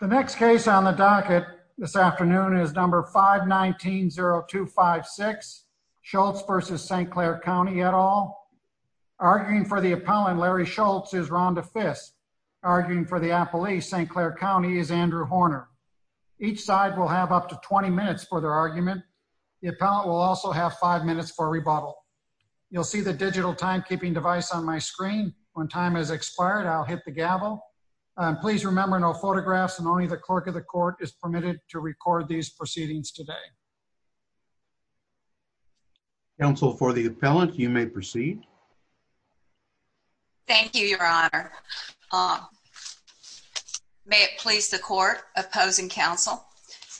The next case on the docket this afternoon is number 519-0256 Schultz v. St. Clair County et al. Arguing for the appellant, Larry Schultz, is Rhonda Fiss. Arguing for the appellee, St. Clair County, is Andrew Horner. Each side will have up to 20 minutes for their argument. The appellant will also have 5 minutes for rebuttal. You'll see the digital timekeeping device on my screen. When time has expired, I'll hit the gavel. Please remember, no photographs and only the clerk of the court is permitted to record these proceedings today. Counsel for the appellant, you may proceed. Thank you, your honor. May it please the court, opposing counsel,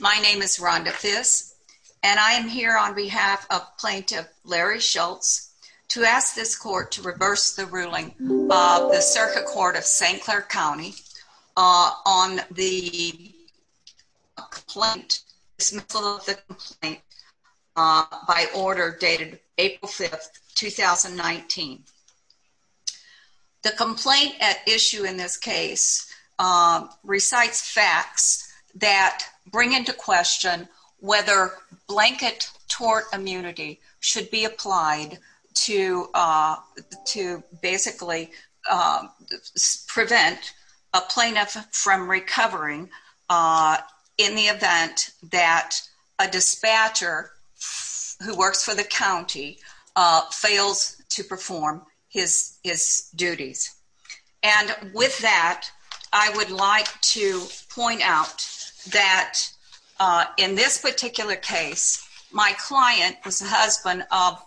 my name is Rhonda Fiss. And I am here on behalf of plaintiff, Larry Schultz, to ask this court to reverse the ruling of the circuit court of St. Clair County on the complaint, dismissal of the complaint, by order dated April 5th, 2019. The complaint at issue in this case recites facts that bring into question whether blanket tort immunity should be applied to basically prevent a plaintiff from recovering in the event that a dispatcher who works for the county fails to perform. His, his duties. And with that, I would like to point out that in this particular case, my client was the husband of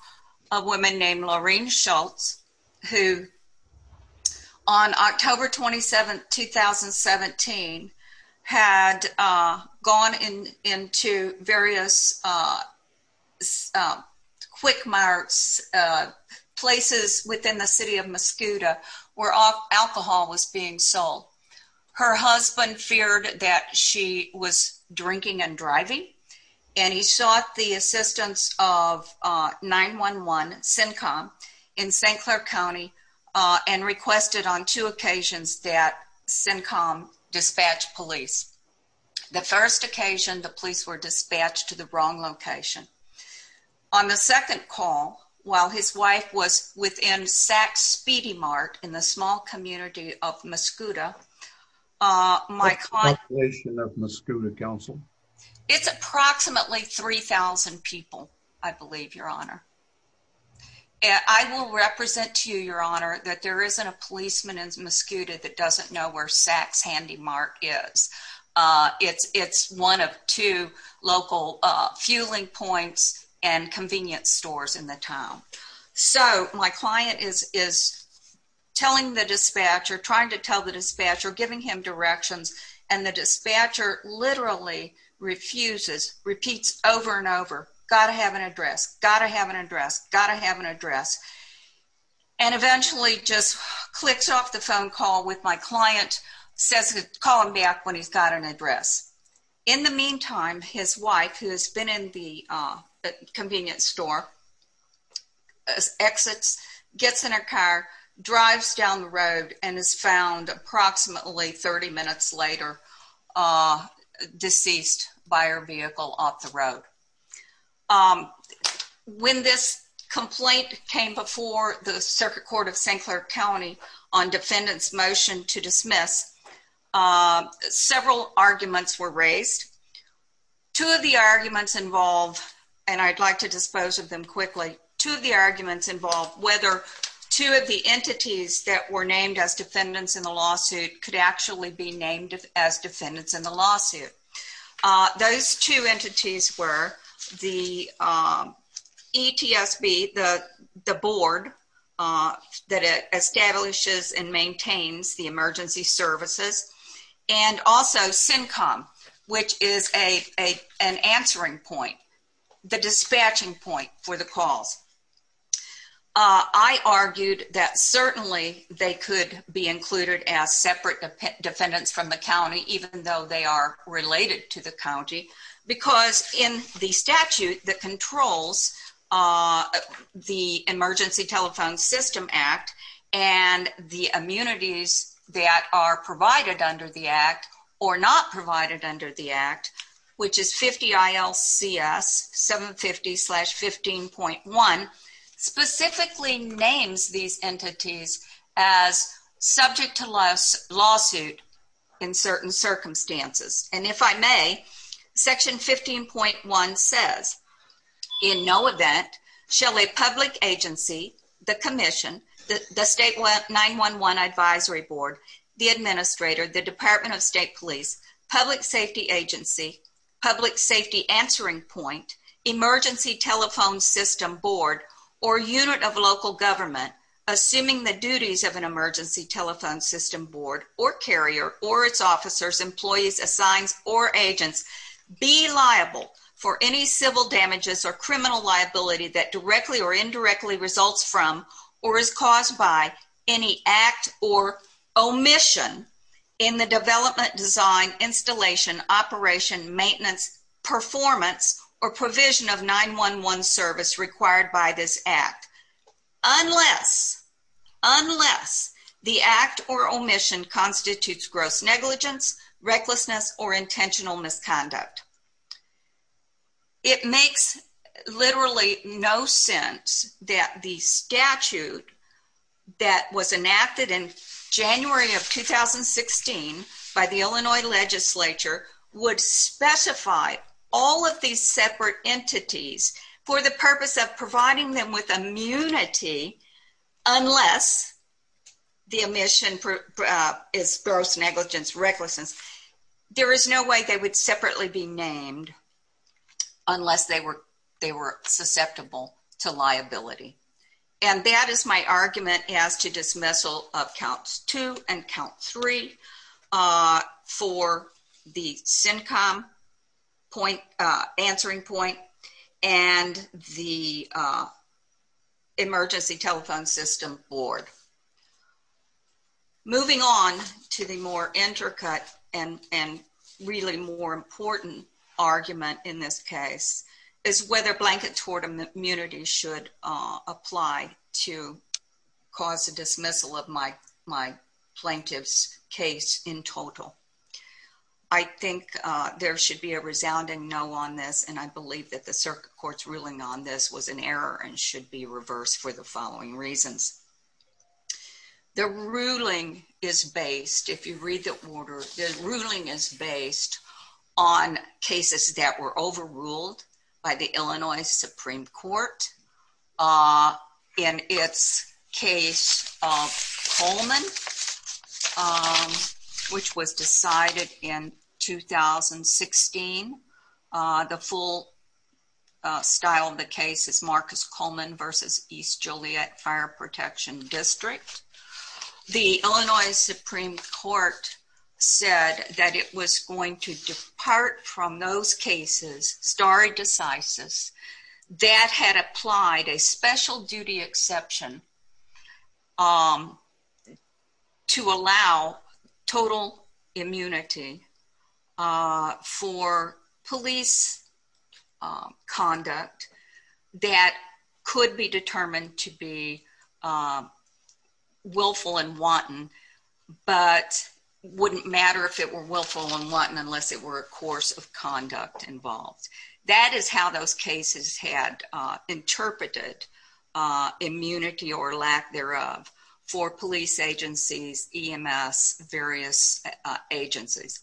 a woman named Lorraine Schultz. Who, on October 27th, 2017, had gone in into various quick marks, places within the city of Mascoutah, where alcohol was being sold. Her husband feared that she was drinking and driving, and he sought the assistance of 911, CINCOM, in St. Clair County, and requested on two occasions that CINCOM dispatch police. The first occasion, the police were dispatched to the wrong location. On the second call, while his wife was within SAC's speedy mark in the small community of Mascoutah, my client. What population of Mascoutah, Counsel? It's approximately 3,000 people, I believe, Your Honor. I will represent to you, Your Honor, that there isn't a policeman in Mascoutah that doesn't know where SAC's handy mark is. It's, it's one of two local fueling points and convenience stores in the town. So, my client is, is telling the dispatcher, trying to tell the dispatcher, giving him directions, and the dispatcher literally refuses, repeats over and over, gotta have an address, gotta have an address, gotta have an address. And eventually just clicks off the phone call with my client, says, call him back when he's got an address. In the meantime, his wife, who has been in the convenience store, exits, gets in her car, drives down the road, and is found approximately 30 minutes later, deceased by her vehicle off the road. When this complaint came before the Circuit Court of St. Clair County on defendant's motion to dismiss, several arguments were raised. Two of the arguments involve, and I'd like to dispose of them quickly, two of the arguments involve whether two of the entities that were named as defendants in the lawsuit could actually be named as defendants in the lawsuit. Those two entities were the ETSB, the board that establishes and maintains the emergency services, and also CINCOM, which is an answering point, the dispatching point for the calls. I argued that certainly they could be included as separate defendants from the county, even though they are related to the county, because in the statute that controls the Emergency Telephone System Act, and the immunities that are provided under the act, or not provided under the act, which is 50 ILCS 750-15.1, specifically names these entities as subject to lawsuit in certain circumstances. And if I may, section 15.1 says, in no event shall a public agency, the commission, the state 911 advisory board, the administrator, the department of state police, public safety agency, public safety answering point, emergency telephone system board, or unit of local government, assuming the duties of an emergency telephone system board, or carrier, or its officers, employees, assigns, or agents, be liable for any civil damages or criminal liability that directly or indirectly results from, or is caused by, any act or omission in the development, design, installation, operation, maintenance, performance, or provision of 911 service required by this act. Unless, unless the act or omission constitutes gross negligence, recklessness, or intentional misconduct. It makes literally no sense that the statute that was enacted in January of 2016 by the Illinois legislature would specify all of these separate entities for the purpose of providing them with immunity, unless the omission is gross negligence, recklessness. There is no way they would separately be named unless they were, they were susceptible to liability. And that is my argument as to dismissal of counts two and count three for the CINCOM point, answering point, and the emergency telephone system board. Moving on to the more intricate and, and really more important argument in this case is whether blanket tort immunity should apply to cause a dismissal of my, my plaintiff's case in total. I think there should be a resounding no on this, and I believe that the circuit court's ruling on this was an error and should be reversed for the following reasons. The ruling is based, if you read the order, the ruling is based on cases that were overruled by the Illinois Supreme Court. In its case of Coleman, which was decided in 2016, the full style of the case is Marcus Coleman versus East Joliet Fire Protection District. The Illinois Supreme Court said that it was going to depart from those cases stare decisis that had applied a special duty exception to allow total immunity for police conduct that could be determined to be willful and wanton, but wouldn't matter if it were willful and wanton unless it were a course of conduct involved. That is how those cases had interpreted immunity or lack thereof for police agencies, EMS, various agencies.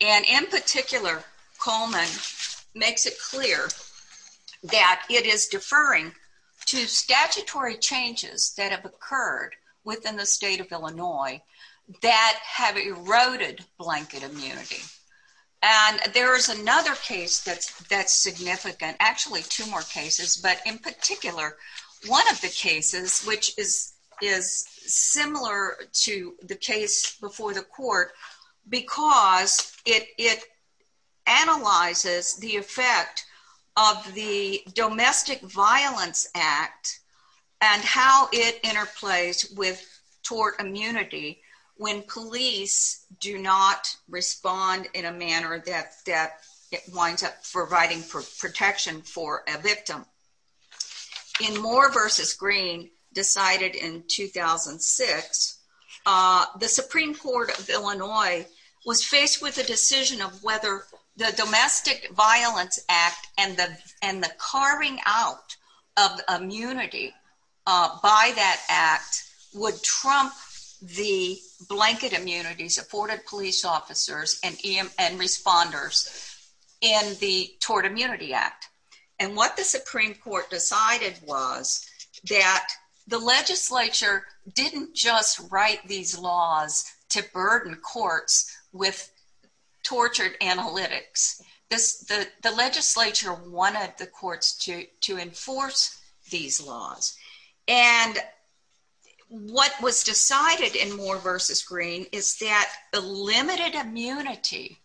And in particular, Coleman makes it clear that it is deferring to statutory changes that have occurred within the state of Illinois that have eroded blanket immunity. And there is another case that's significant, actually two more cases, but in particular, one of the cases, which is similar to the case before the court, because it analyzes the effect of the Domestic Violence Act and how it interplays with tort immunity when police do not respond in a manner that winds up providing protection for a victim. In Moore versus Green, decided in 2006, the Supreme Court of Illinois was faced with the decision of whether the Domestic Violence Act and the carving out of immunity by that act would trump the blanket immunity supported police officers and responders in the Tort Immunity Act. And what the Supreme Court decided was that the legislature didn't just write these laws to burden courts with tortured analytics. The legislature wanted the courts to enforce these laws. And what was decided in Moore versus Green is that the limited immunity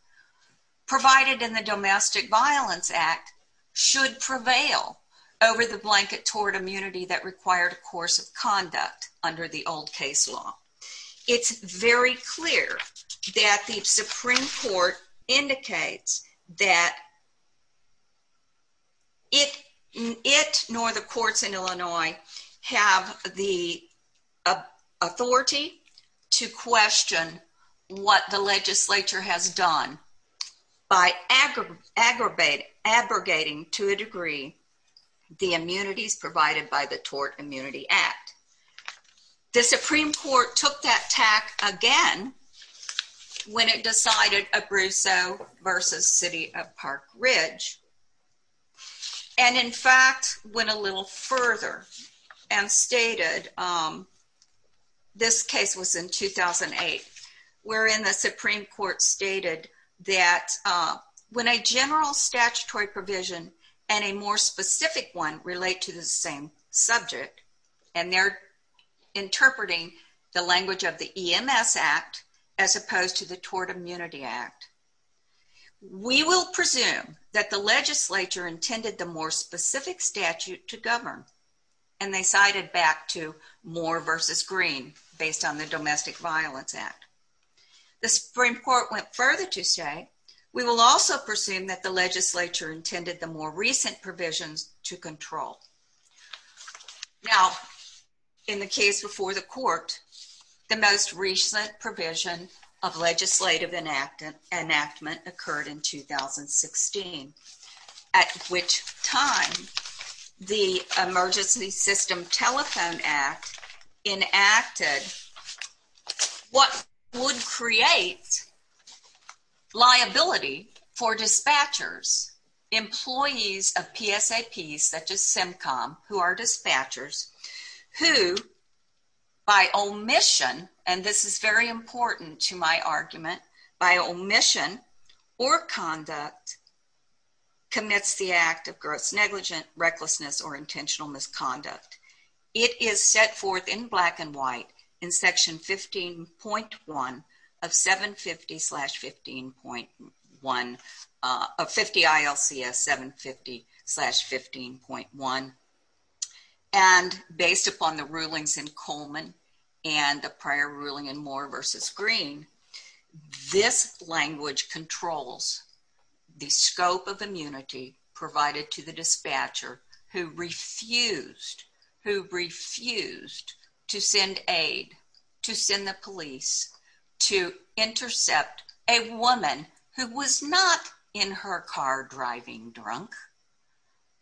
provided in the Domestic Violence Act should prevail over the blanket tort immunity that required a course of conduct under the old case law. It's very clear that the Supreme Court indicates that it nor the courts in Illinois have the authority to question what the legislature has done by aggregating to a degree the immunities provided by the Tort Immunity Act. The Supreme Court took that tack again when it decided Abruzzo versus City of Park Ridge and in fact went a little further and stated, this case was in 2008, wherein the Supreme Court stated that when a general statutory provision and a more specific one relate to the same subject matter, interpreting the language of the EMS Act as opposed to the Tort Immunity Act, we will presume that the legislature intended the more specific statute to govern. And they cited back to Moore versus Green based on the Domestic Violence Act. The Supreme Court went further to say, we will also presume that the legislature intended the more recent provisions to control. Now, in the case before the court, the most recent provision of legislative enactment occurred in 2016, at which time the Emergency System Telephone Act enacted what would create liability for dispatchers, employees of PSAPs, such as SimCom, who are dispatchers, who by omission, and this is very important to my argument, by omission or conduct, commits the act of gross negligence, recklessness, or intentional misconduct. It is set forth in black and white in Section 15.1 of 750-15.1 of 50 ILCS 750-15.1. And based upon the rulings in Coleman and the prior ruling in Moore versus Green, this language controls the scope of immunity provided to the dispatcher who refused to send aid, to send the police, to intercept a woman who was not in her car driving drunk,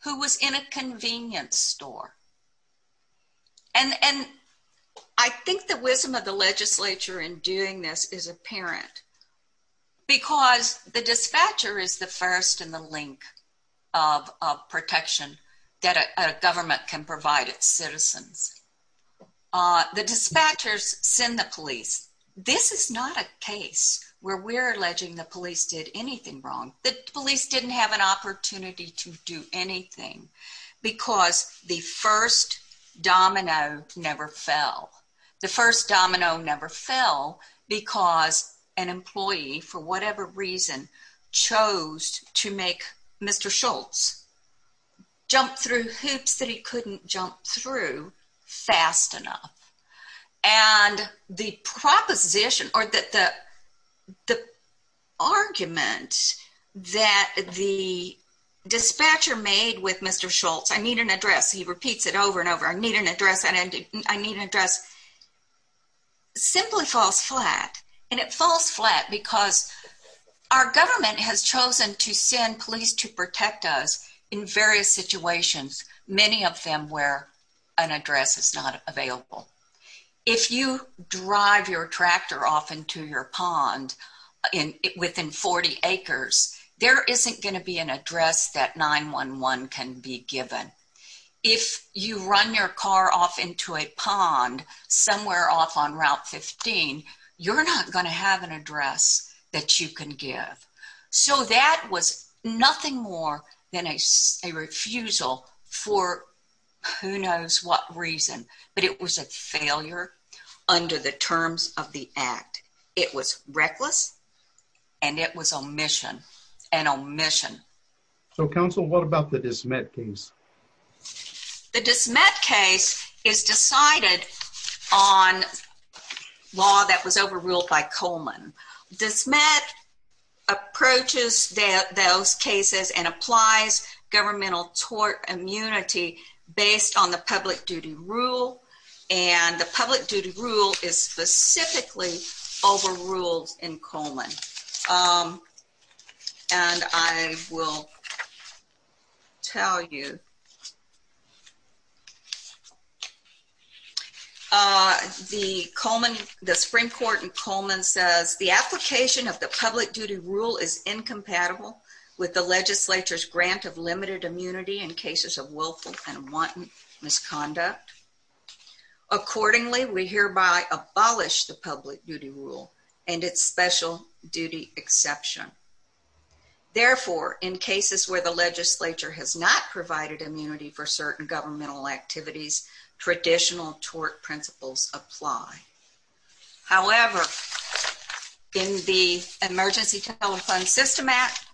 who was in a convenience store. And I think the wisdom of the legislature in doing this is apparent, because the dispatcher is the first in the link of protection that a government can provide its citizens. The dispatchers send the police. This is not a case where we're alleging the police did anything wrong. The police didn't have an opportunity to do anything, because the first domino never fell. The first domino never fell because an employee, for whatever reason, chose to make Mr. Schultz jump through hoops that he couldn't jump through fast enough. And the proposition or the argument that the dispatcher made with Mr. Schultz, I need an address, he repeats it over and over, I need an address, I need an address, simply falls flat. And it falls flat because our government has chosen to send police to protect us in various situations, many of them where an address is not available. If you drive your tractor off into your pond within 40 acres, there isn't going to be an address that 911 can be given. If you run your car off into a pond somewhere off on Route 15, you're not going to have an address that you can give. So that was nothing more than a refusal for who knows what reason, but it was a failure under the terms of the act. It was reckless, and it was an omission. So, Counsel, what about the Dismet case? The Dismet case is decided on law that was overruled by Coleman. Dismet approaches those cases and applies governmental tort immunity based on the public duty rule, and the public duty rule is specifically overruled in Coleman. And I will tell you, the Supreme Court in Coleman says, the application of the public duty rule is incompatible with the legislature's grant of limited immunity in cases of willful and wanton misconduct. Accordingly, we hereby abolish the public duty rule and its special duty exception. Therefore, in cases where the legislature has not provided immunity for certain governmental activities, traditional tort principles apply. However, in the Emergency Telephone System Act,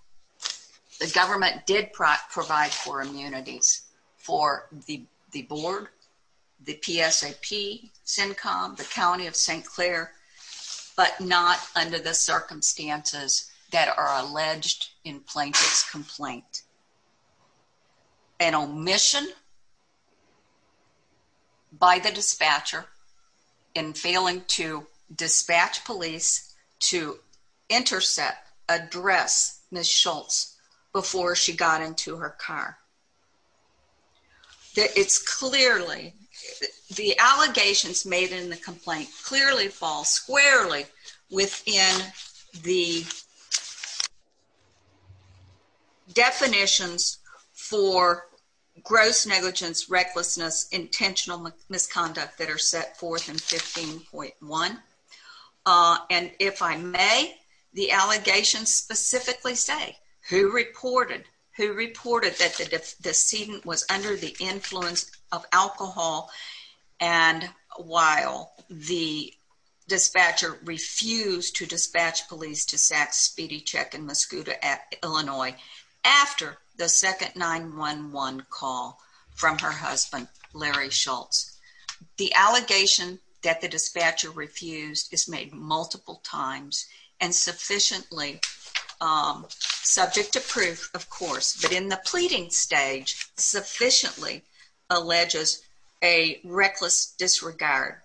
the government did provide for immunities for the board, the PSAP, CINCOM, the County of St. Clair, but not under the circumstances that are alleged in Plaintiff's Complaint. An omission by the dispatcher in failing to dispatch police to intercept, address Ms. Schultz before she got into her car. The allegations made in the complaint clearly fall squarely within the definitions for gross negligence, recklessness, intentional misconduct that are set forth in 15.1. And if I may, the allegations specifically say, who reported, who reported that the decedent was under the influence of alcohol and while the dispatcher refused to dispatch police to sack Spedichek in Muscoota, Illinois, after the second 911 call from her husband, Larry Schultz. The allegation that the dispatcher refused is made multiple times and sufficiently subject to proof, of course, but in the pleading stage, sufficiently alleges a reckless disregard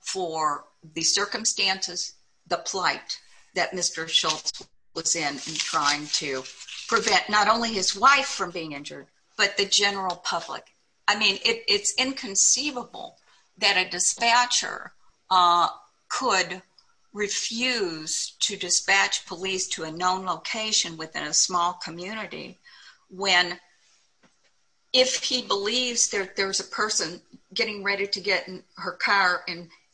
for the circumstances, the plight that Mr. Schultz was in trying to prevent not only his wife from being injured, but the general public. I mean, it's inconceivable that a dispatcher could refuse to dispatch police to a known location within a small community when, if he believes that there's a person getting ready to get in her car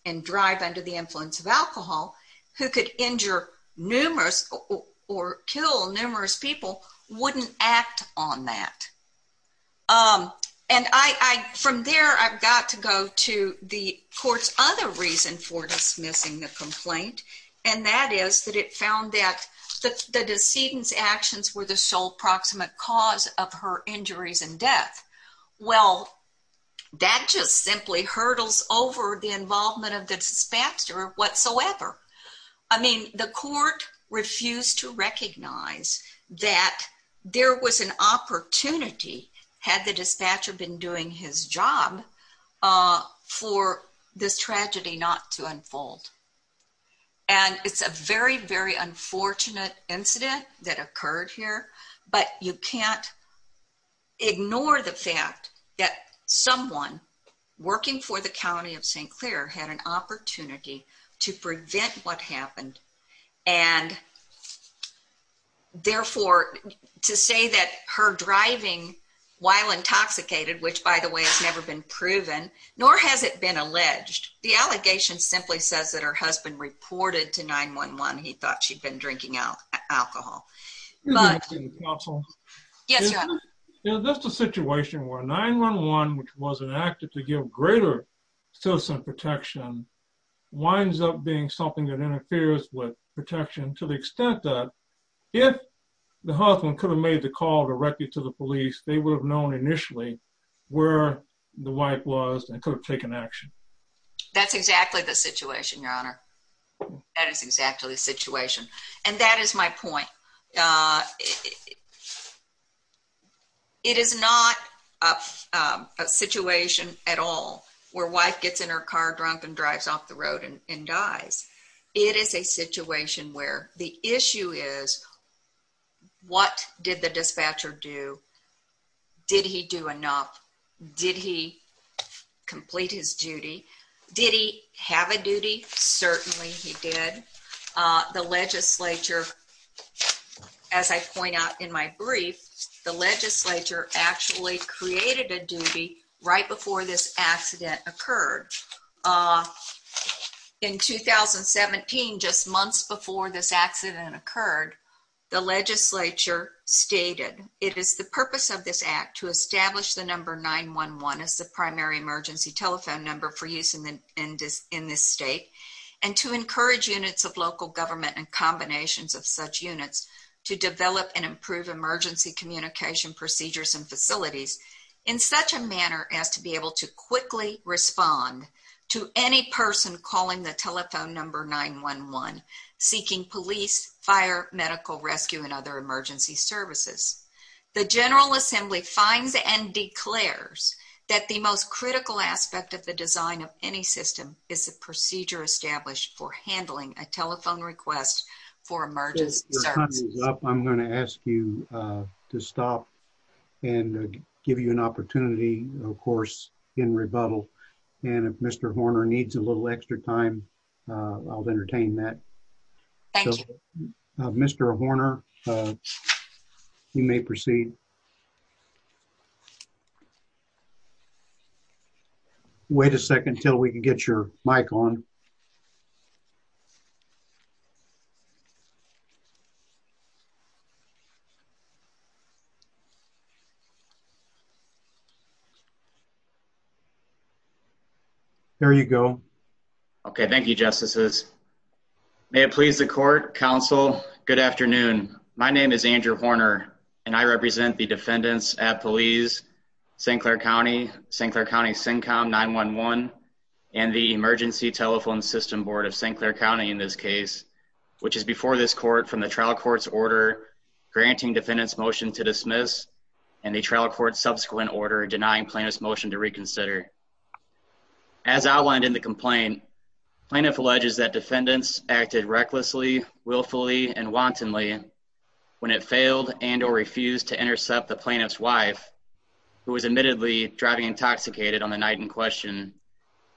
and drive under the influence of alcohol, who could injure numerous or kill numerous people, wouldn't act on that. And from there, I've got to go to the court's other reason for dismissing the complaint. And that is that it found that the decedent's actions were the sole proximate cause of her injuries and death. Well, that just simply hurdles over the involvement of the dispatcher whatsoever. I mean, the court refused to recognize that there was an opportunity, had the dispatcher been doing his job, for this tragedy not to unfold. And it's a very, very unfortunate incident that occurred here, but you can't ignore the fact that someone working for the county of St. Clair had an opportunity to prevent what happened. And, therefore, to say that her driving while intoxicated, which, by the way, has never been proven, nor has it been alleged, the allegation simply says that her husband reported to 911 he thought she'd been drinking alcohol. Yes, Your Honor. That's the situation where 911, which was enacted to give greater citizen protection, winds up being something that interferes with protection to the extent that if the husband could have made the call directly to the police, they would have known initially where the wife was and could have taken action. That's exactly the situation, Your Honor. That is exactly the situation. And that is my point. It is not a situation at all where a wife gets in her car drunk and drives off the road and dies. It is a situation where the issue is, what did the dispatcher do? Did he do enough? Did he complete his duty? Did he have a duty? Certainly he did. The legislature, as I point out in my brief, the legislature actually created a duty right before this accident occurred. In 2017, just months before this accident occurred, the legislature stated, It is the purpose of this act to establish the number 911 as the primary emergency telephone number for use in this state and to encourage units of local government and combinations of such units to develop and improve emergency communication procedures and facilities in such a manner as to be able to quickly respond to any person calling the telephone number 911 seeking police, fire, medical rescue, and other emergency services. The General Assembly finds and declares that the most critical aspect of the design of any system is the procedure established for handling a telephone request for emergency services. Your time is up. I'm going to ask you to stop and give you an opportunity, of course, in rebuttal. And if Mr. Horner needs a little extra time, I'll entertain that. Thank you. Mr. Horner, you may proceed. Wait a second until we can get your mic on. There you go. Okay, thank you, Justices. May it please the Court, Counsel. Good afternoon. My name is Andrew Horner, and I represent the defendants at police, St. Clair County, St. Clair County SYNCOM 911, and the Emergency Telephone System Board of St. Clair County in this case, which is before this court from the trial court's order granting defendants motion to dismiss and the trial court's subsequent order denying plaintiff's motion to reconsider. As outlined in the complaint, plaintiff alleges that defendants acted recklessly, willfully, and wantonly when it failed and or refused to intercept the plaintiff's wife, who was admittedly driving intoxicated on the night in question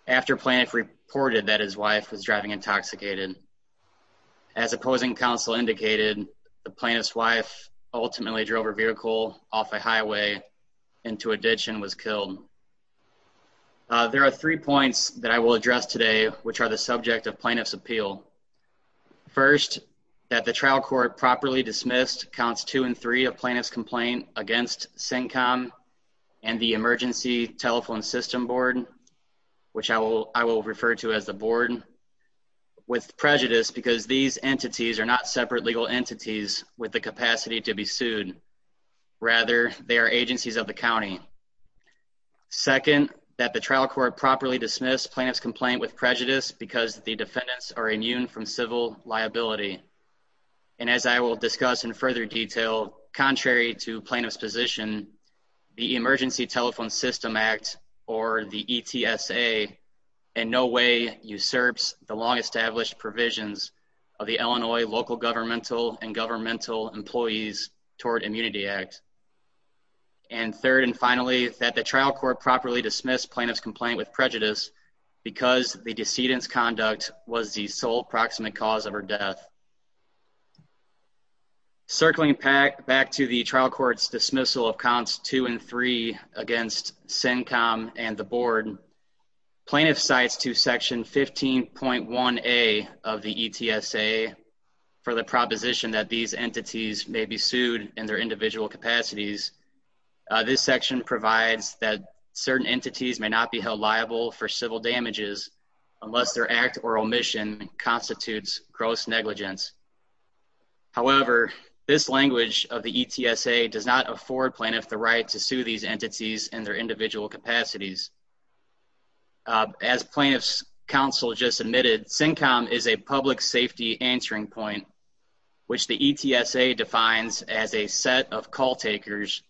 after plaintiff reported that his wife was driving intoxicated. As opposing counsel indicated, the plaintiff's wife ultimately drove her vehicle off a highway into a ditch and was killed. There are three points that I will address today, which are the subject of plaintiff's appeal. First, that the trial court properly dismissed counts two and three of plaintiff's complaint against SYNCOM and the Emergency Telephone System Board, which I will refer to as the board, with prejudice because these entities are not separate legal entities with the capacity to be sued. Rather, they are agencies of the county. Second, that the trial court properly dismissed plaintiff's complaint with prejudice because the defendants are immune from civil liability. And as I will discuss in further detail, contrary to plaintiff's position, the Emergency Telephone System Act, or the ETSA, in no way usurps the long-established provisions of the Illinois Local Governmental and Governmental Employees Toward Immunity Act. And third and finally, that the trial court properly dismissed plaintiff's complaint with prejudice because the decedent's conduct was the sole proximate cause of her death. Circling back to the trial court's dismissal of counts two and three against SYNCOM and the board, plaintiff cites to Section 15.1A of the ETSA for the proposition that these entities may be sued in their individual capacities. This section provides that certain entities may not be held liable for civil damages unless their act or omission constitutes gross negligence. However, this language of the ETSA does not afford plaintiff the right to sue these entities in their individual capacities. As plaintiff's counsel just admitted, SYNCOM is a public safety answering point, which the ETSA defines as a set of call takers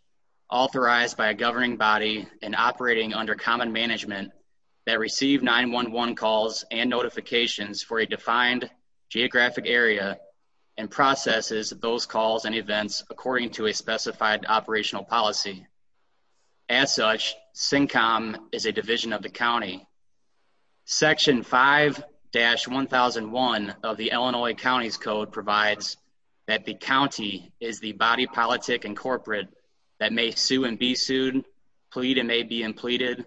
authorized by a governing body and operating under common management that receive 911 calls and notifications for a defined geographic area and processes those calls and events according to a specified operational policy. As such, SYNCOM is a division of the county. Section 5-1001 of the Illinois County's Code provides that the county is the body, politic, and corporate that may sue and be sued, plead and may be impleaded,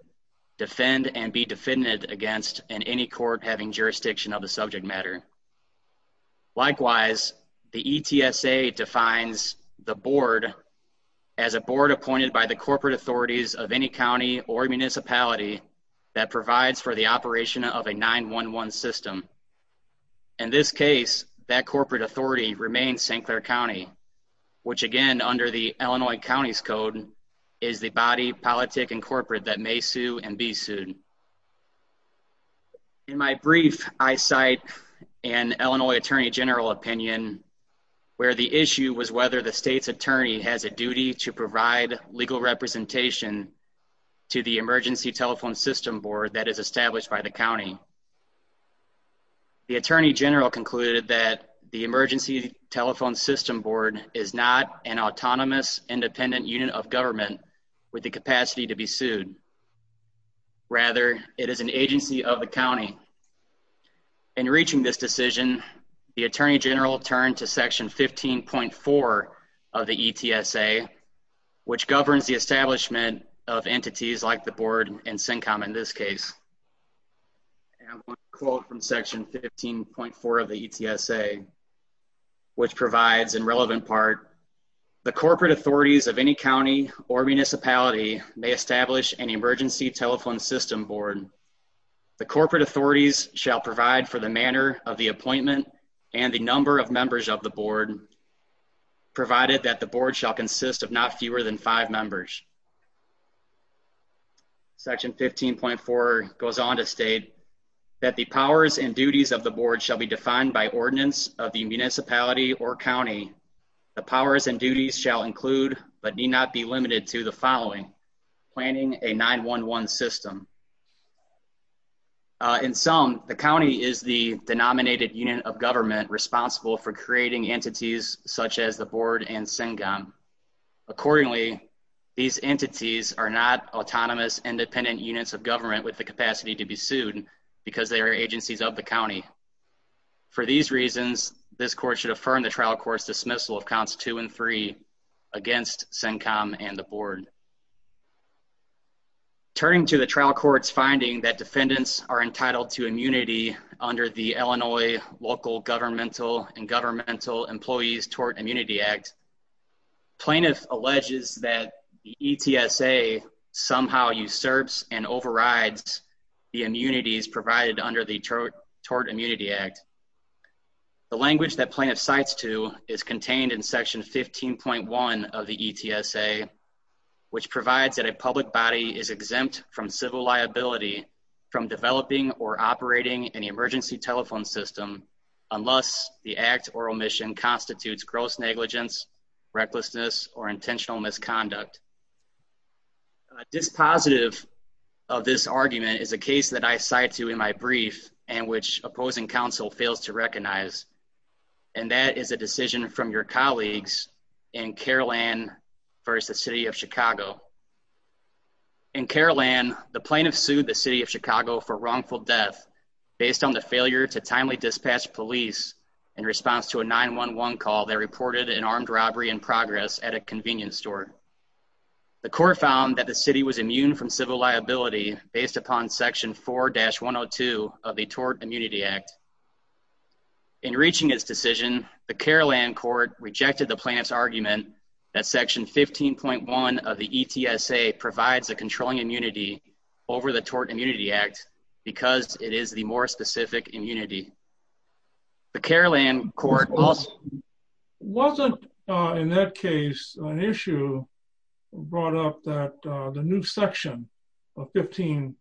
defend and be defended against in any court having jurisdiction of the subject matter. Likewise, the ETSA defines the board as a board appointed by the corporate authorities of any county or municipality that provides for the operation of a 911 system. In this case, that corporate authority remains St. Clair County, which again, under the Illinois County's Code, is the body, politic, and corporate that may sue and be sued. In my brief, I cite an Illinois Attorney General opinion where the issue was whether the state's attorney has a duty to provide legal representation to the Emergency Telephone System Board that is established by the county. The Attorney General concluded that the Emergency Telephone System Board is not an autonomous, independent unit of government with the capacity to be sued. Rather, it is an agency of the county. In reaching this decision, the Attorney General turned to Section 15.4 of the ETSA, which governs the establishment of entities like the board and SYNCOM in this case. I have one quote from Section 15.4 of the ETSA, which provides, in relevant part, The corporate authorities of any county or municipality may establish an Emergency Telephone System Board. The corporate authorities shall provide for the manner of the appointment and the number of members of the board, provided that the board shall consist of not fewer than five members. Section 15.4 goes on to state that the powers and duties of the board shall be defined by ordinance of the municipality or county. The powers and duties shall include, but need not be limited to, the following, planning a 911 system. In sum, the county is the denominated unit of government responsible for creating entities such as the board and SYNCOM. Accordingly, these entities are not autonomous, independent units of government with the capacity to be sued because they are agencies of the county. For these reasons, this court should affirm the trial court's dismissal of counts 2 and 3 against SYNCOM and the board. Turning to the trial court's finding that defendants are entitled to immunity under the Illinois Local Governmental and Governmental Employees Tort Immunity Act, plaintiff alleges that the ETSA somehow usurps and overrides the immunities provided under the Tort Immunity Act. The language that plaintiff cites to is contained in Section 15.1 of the ETSA, which provides that a public body is exempt from civil liability from developing or operating an emergency telephone system unless the act or omission constitutes gross negligence, recklessness, or intentional misconduct. Dispositive of this argument is a case that I cite to in my brief and which opposing counsel fails to recognize, and that is a decision from your colleagues in Carol Ann v. The City of Chicago. In Carol Ann, the plaintiff sued the City of Chicago for wrongful death based on the failure to timely dispatch police in response to a 911 call that reported an armed robbery in progress at a convenience store. The court found that the city was immune from civil liability based upon Section 4-102 of the Tort Immunity Act. In reaching its decision, the Carol Ann court rejected the plaintiff's argument that Section 15.1 of the ETSA provides a controlling immunity over the Tort Immunity Act because it is the more specific immunity. The Carol Ann court also… Wasn't, in that case, an issue brought up that the new Section 15.1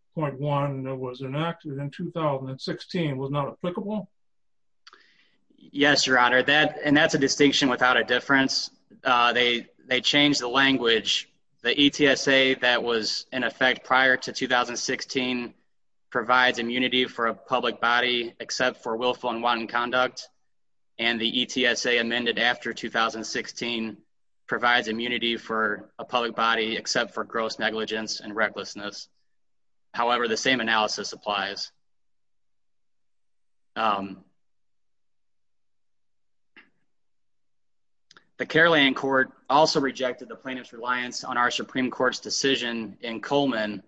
that was enacted in 2016 was not applicable? Yes, Your Honor, and that's a distinction without a difference. They changed the language. The ETSA that was in effect prior to 2016 provides immunity for a public body except for willful and wanton conduct, and the ETSA amended after 2016 provides immunity for a public body except for gross negligence and recklessness. However, the same analysis applies. The Carol Ann court also rejected the plaintiff's reliance on our Supreme Court's decision in Coleman,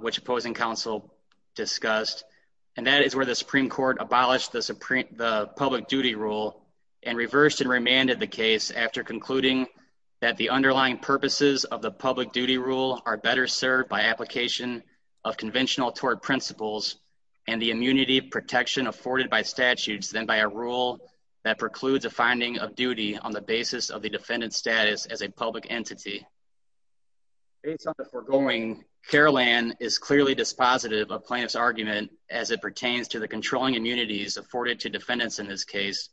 which opposing counsel discussed, and that is where the Supreme Court abolished the public duty rule and reversed and remanded the case after concluding that the underlying purposes of the public duty rule are better served by application of conventional tort principles. And the immunity protection afforded by statutes than by a rule that precludes a finding of duty on the basis of the defendant's status as a public entity. Based on the foregoing, Carol Ann is clearly dispositive of plaintiff's argument as it pertains to the controlling immunities afforded to defendants in this case,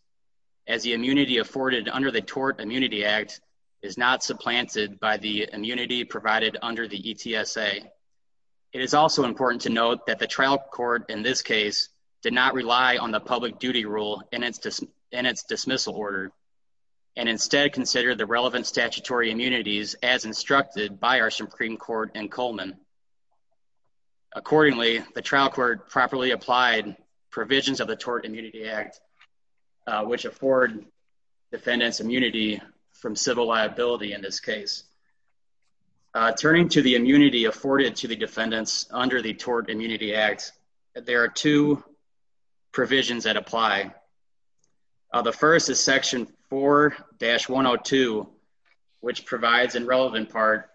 as the immunity afforded under the Tort Immunity Act is not supplanted by the immunity provided under the ETSA. It is also important to note that the trial court in this case did not rely on the public duty rule in its dismissal order, and instead consider the relevant statutory immunities as instructed by our Supreme Court in Coleman. Accordingly, the trial court properly applied provisions of the Tort Immunity Act, which afford defendants immunity from civil liability in this case. Turning to the immunity afforded to the defendants under the Tort Immunity Act, there are two provisions that apply. The first is Section 4-102, which provides a relevant part.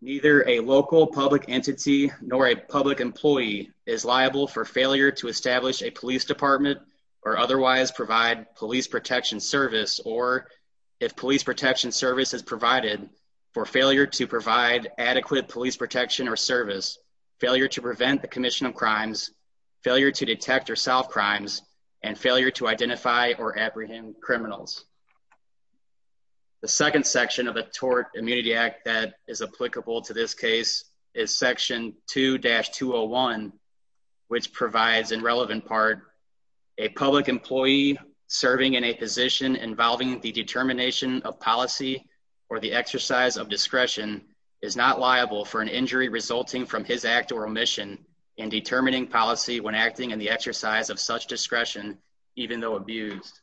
Neither a local public entity nor a public employee is liable for failure to establish a police department or otherwise provide police protection service or, if police protection service is provided, for failure to provide adequate police protection or service, failure to prevent the commission of crimes, failure to detect or solve crimes, and failure to identify or apprehend criminals. The second section of the Tort Immunity Act that is applicable to this case is Section 2-201, which provides a relevant part. A public employee serving in a position involving the determination of policy or the exercise of discretion is not liable for an injury resulting from his act or omission in determining policy when acting in the exercise of such discretion, even though abused.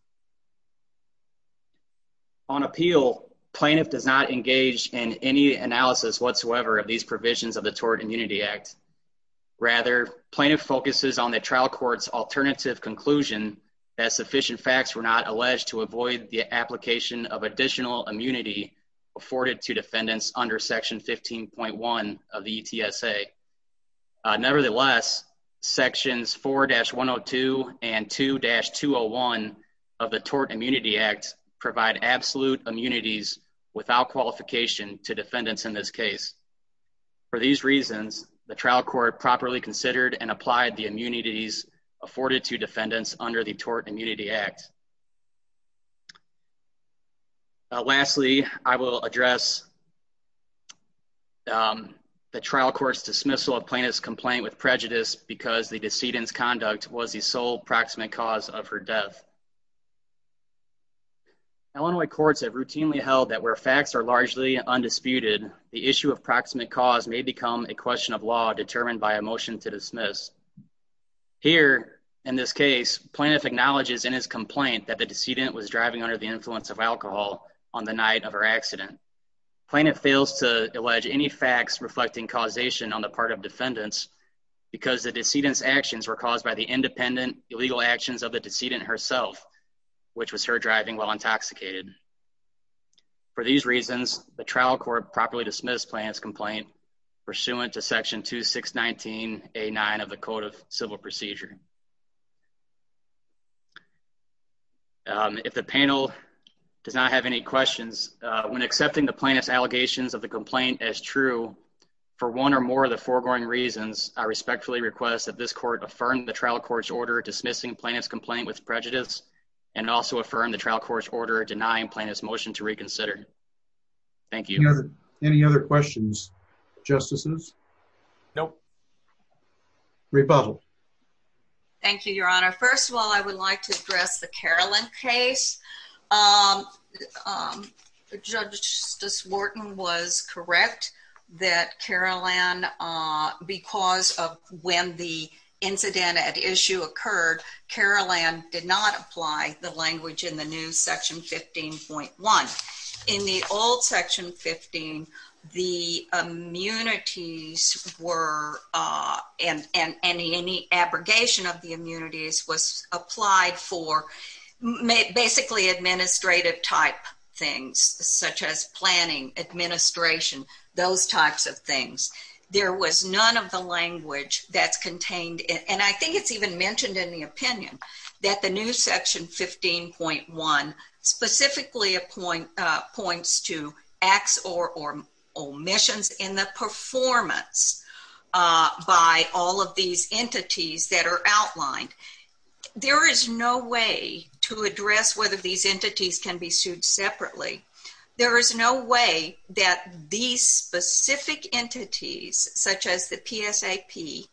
On appeal, plaintiff does not engage in any analysis whatsoever of these provisions of the Tort Immunity Act. Rather, plaintiff focuses on the trial court's alternative conclusion that sufficient facts were not alleged to avoid the application of additional immunity afforded to defendants under Section 15.1 of the ETSA. Nevertheless, Sections 4-102 and 2-201 of the Tort Immunity Act provide absolute immunities without qualification to defendants in this case. For these reasons, the trial court properly considered and applied the immunities afforded to defendants under the Tort Immunity Act. Lastly, I will address the trial court's dismissal of plaintiff's complaint with prejudice because the decedent's conduct was the sole proximate cause of her death. Illinois courts have routinely held that where facts are largely undisputed, the issue of proximate cause may become a question of law determined by a motion to dismiss. Here, in this case, plaintiff acknowledges in his complaint that the decedent was driving under the influence of alcohol on the night of her accident. Plaintiff fails to allege any facts reflecting causation on the part of defendants because the decedent's actions were caused by the independent, illegal actions of the decedent herself, which was her driving while intoxicated. For these reasons, the trial court properly dismissed plaintiff's complaint pursuant to Section 2619A9 of the Code of Civil Procedure. If the panel does not have any questions, when accepting the plaintiff's allegations of the complaint as true, for one or more of the foregoing reasons, I respectfully request that this court affirm the trial court's order dismissing plaintiff's complaint with prejudice and also affirm the trial court's order denying plaintiff's motion to reconsider. Thank you. Any other questions, Justices? Nope. Rebuttal. Thank you, Your Honor. First of all, I would like to address the Caroline case. Judge Justice Wharton was correct that Caroline, because of when the incident at issue occurred, Caroline did not apply the language in the new Section 15.1. In the old Section 15, the immunities were, and any abrogation of the immunities was applied for basically administrative type things, such as planning, administration, those types of things. There was none of the language that's contained, and I think it's even mentioned in the opinion, that the new Section 15.1 specifically points to acts or omissions in the performance by all of these entities that are outlined. There is no way to address whether these entities can be sued separately. There is no way that these specific entities, such as the PSAP,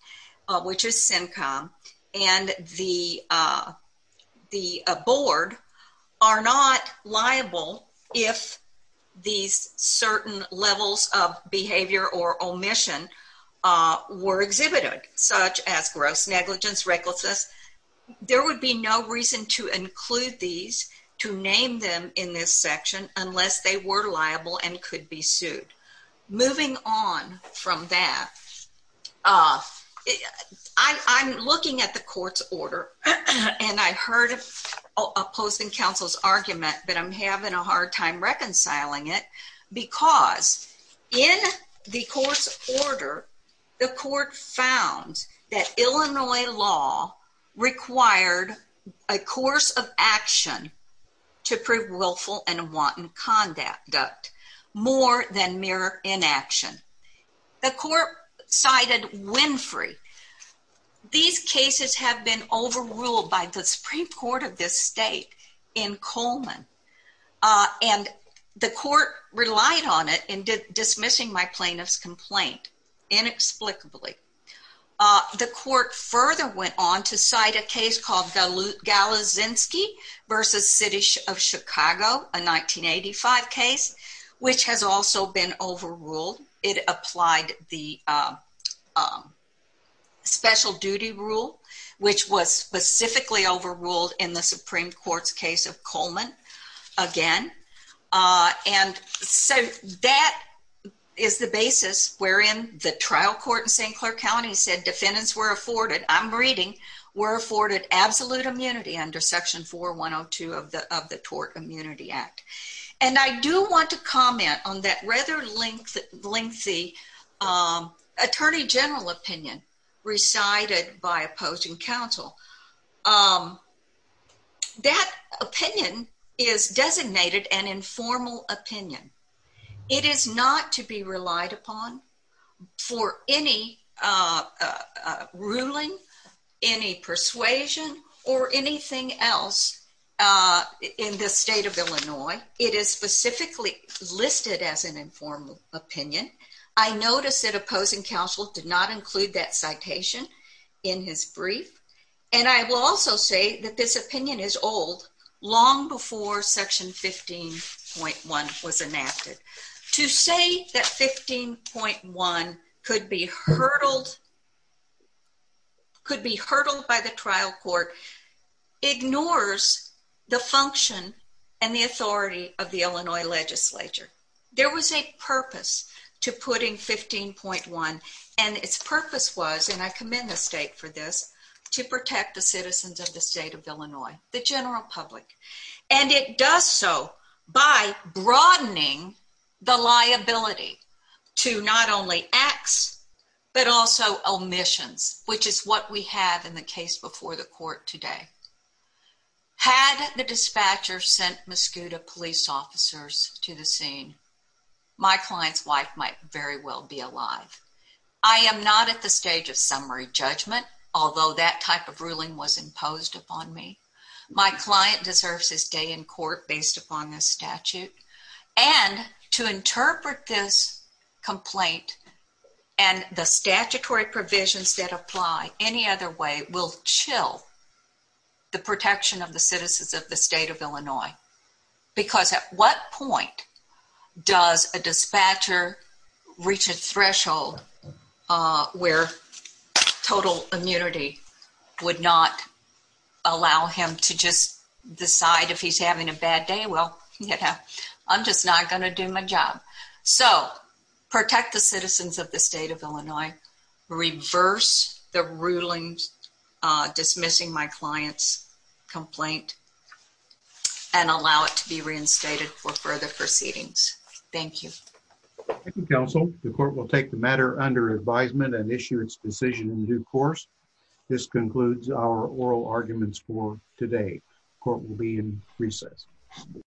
which is CINCOM, and the board are not liable if these certain levels of behavior or omission were exhibited, such as gross negligence, recklessness. There would be no reason to include these, to name them in this section, unless they were liable and could be sued. Moving on from that, I'm looking at the court's order, and I heard opposing counsel's argument, but I'm having a hard time reconciling it, because in the court's order, the court found that Illinois law required a course of action to prove willful and wanton conduct. More than mere inaction. The court cited Winfrey. These cases have been overruled by the Supreme Court of this state in Coleman, and the court relied on it in dismissing my plaintiff's complaint, inexplicably. The court further went on to cite a case called Galizinski v. City of Chicago, a 1985 case, which has also been overruled. It applied the special duty rule, which was specifically overruled in the Supreme Court's case of Coleman, again. And so that is the basis wherein the trial court in St. Clair County said defendants were afforded, I'm reading, were afforded absolute immunity under Section 4102 of the Tort Immunity Act. And I do want to comment on that rather lengthy Attorney General opinion recited by opposing counsel. That opinion is designated an informal opinion. It is not to be relied upon for any ruling, any persuasion, or anything else in the state of Illinois. It is specifically listed as an informal opinion. I notice that opposing counsel did not include that citation in his brief, and I will also say that this opinion is old, long before Section 15.1 was enacted. To say that 15.1 could be hurdled by the trial court ignores the function and the authority of the Illinois legislature. There was a purpose to putting 15.1, and its purpose was, and I commend the state for this, to protect the citizens of the state of Illinois, the general public. And it does so by broadening the liability to not only acts, but also omissions, which is what we have in the case before the court today. Had the dispatcher sent Mascouda police officers to the scene, my client's wife might very well be alive. I am not at the stage of summary judgment, although that type of ruling was imposed upon me. My client deserves his day in court based upon this statute, and to interpret this complaint and the statutory provisions that apply any other way will chill the protection of the citizens of the state of Illinois. Because at what point does a dispatcher reach a threshold where total immunity would not allow him to just decide if he's having a bad day? Well, you know, I'm just not going to do my job. So, protect the citizens of the state of Illinois, reverse the ruling dismissing my client's complaint, and allow it to be reinstated for further proceedings. Thank you. Thank you, counsel. The court will take the matter under advisement and issue its decision in due course. This concludes our oral arguments for today. Court will be in recess.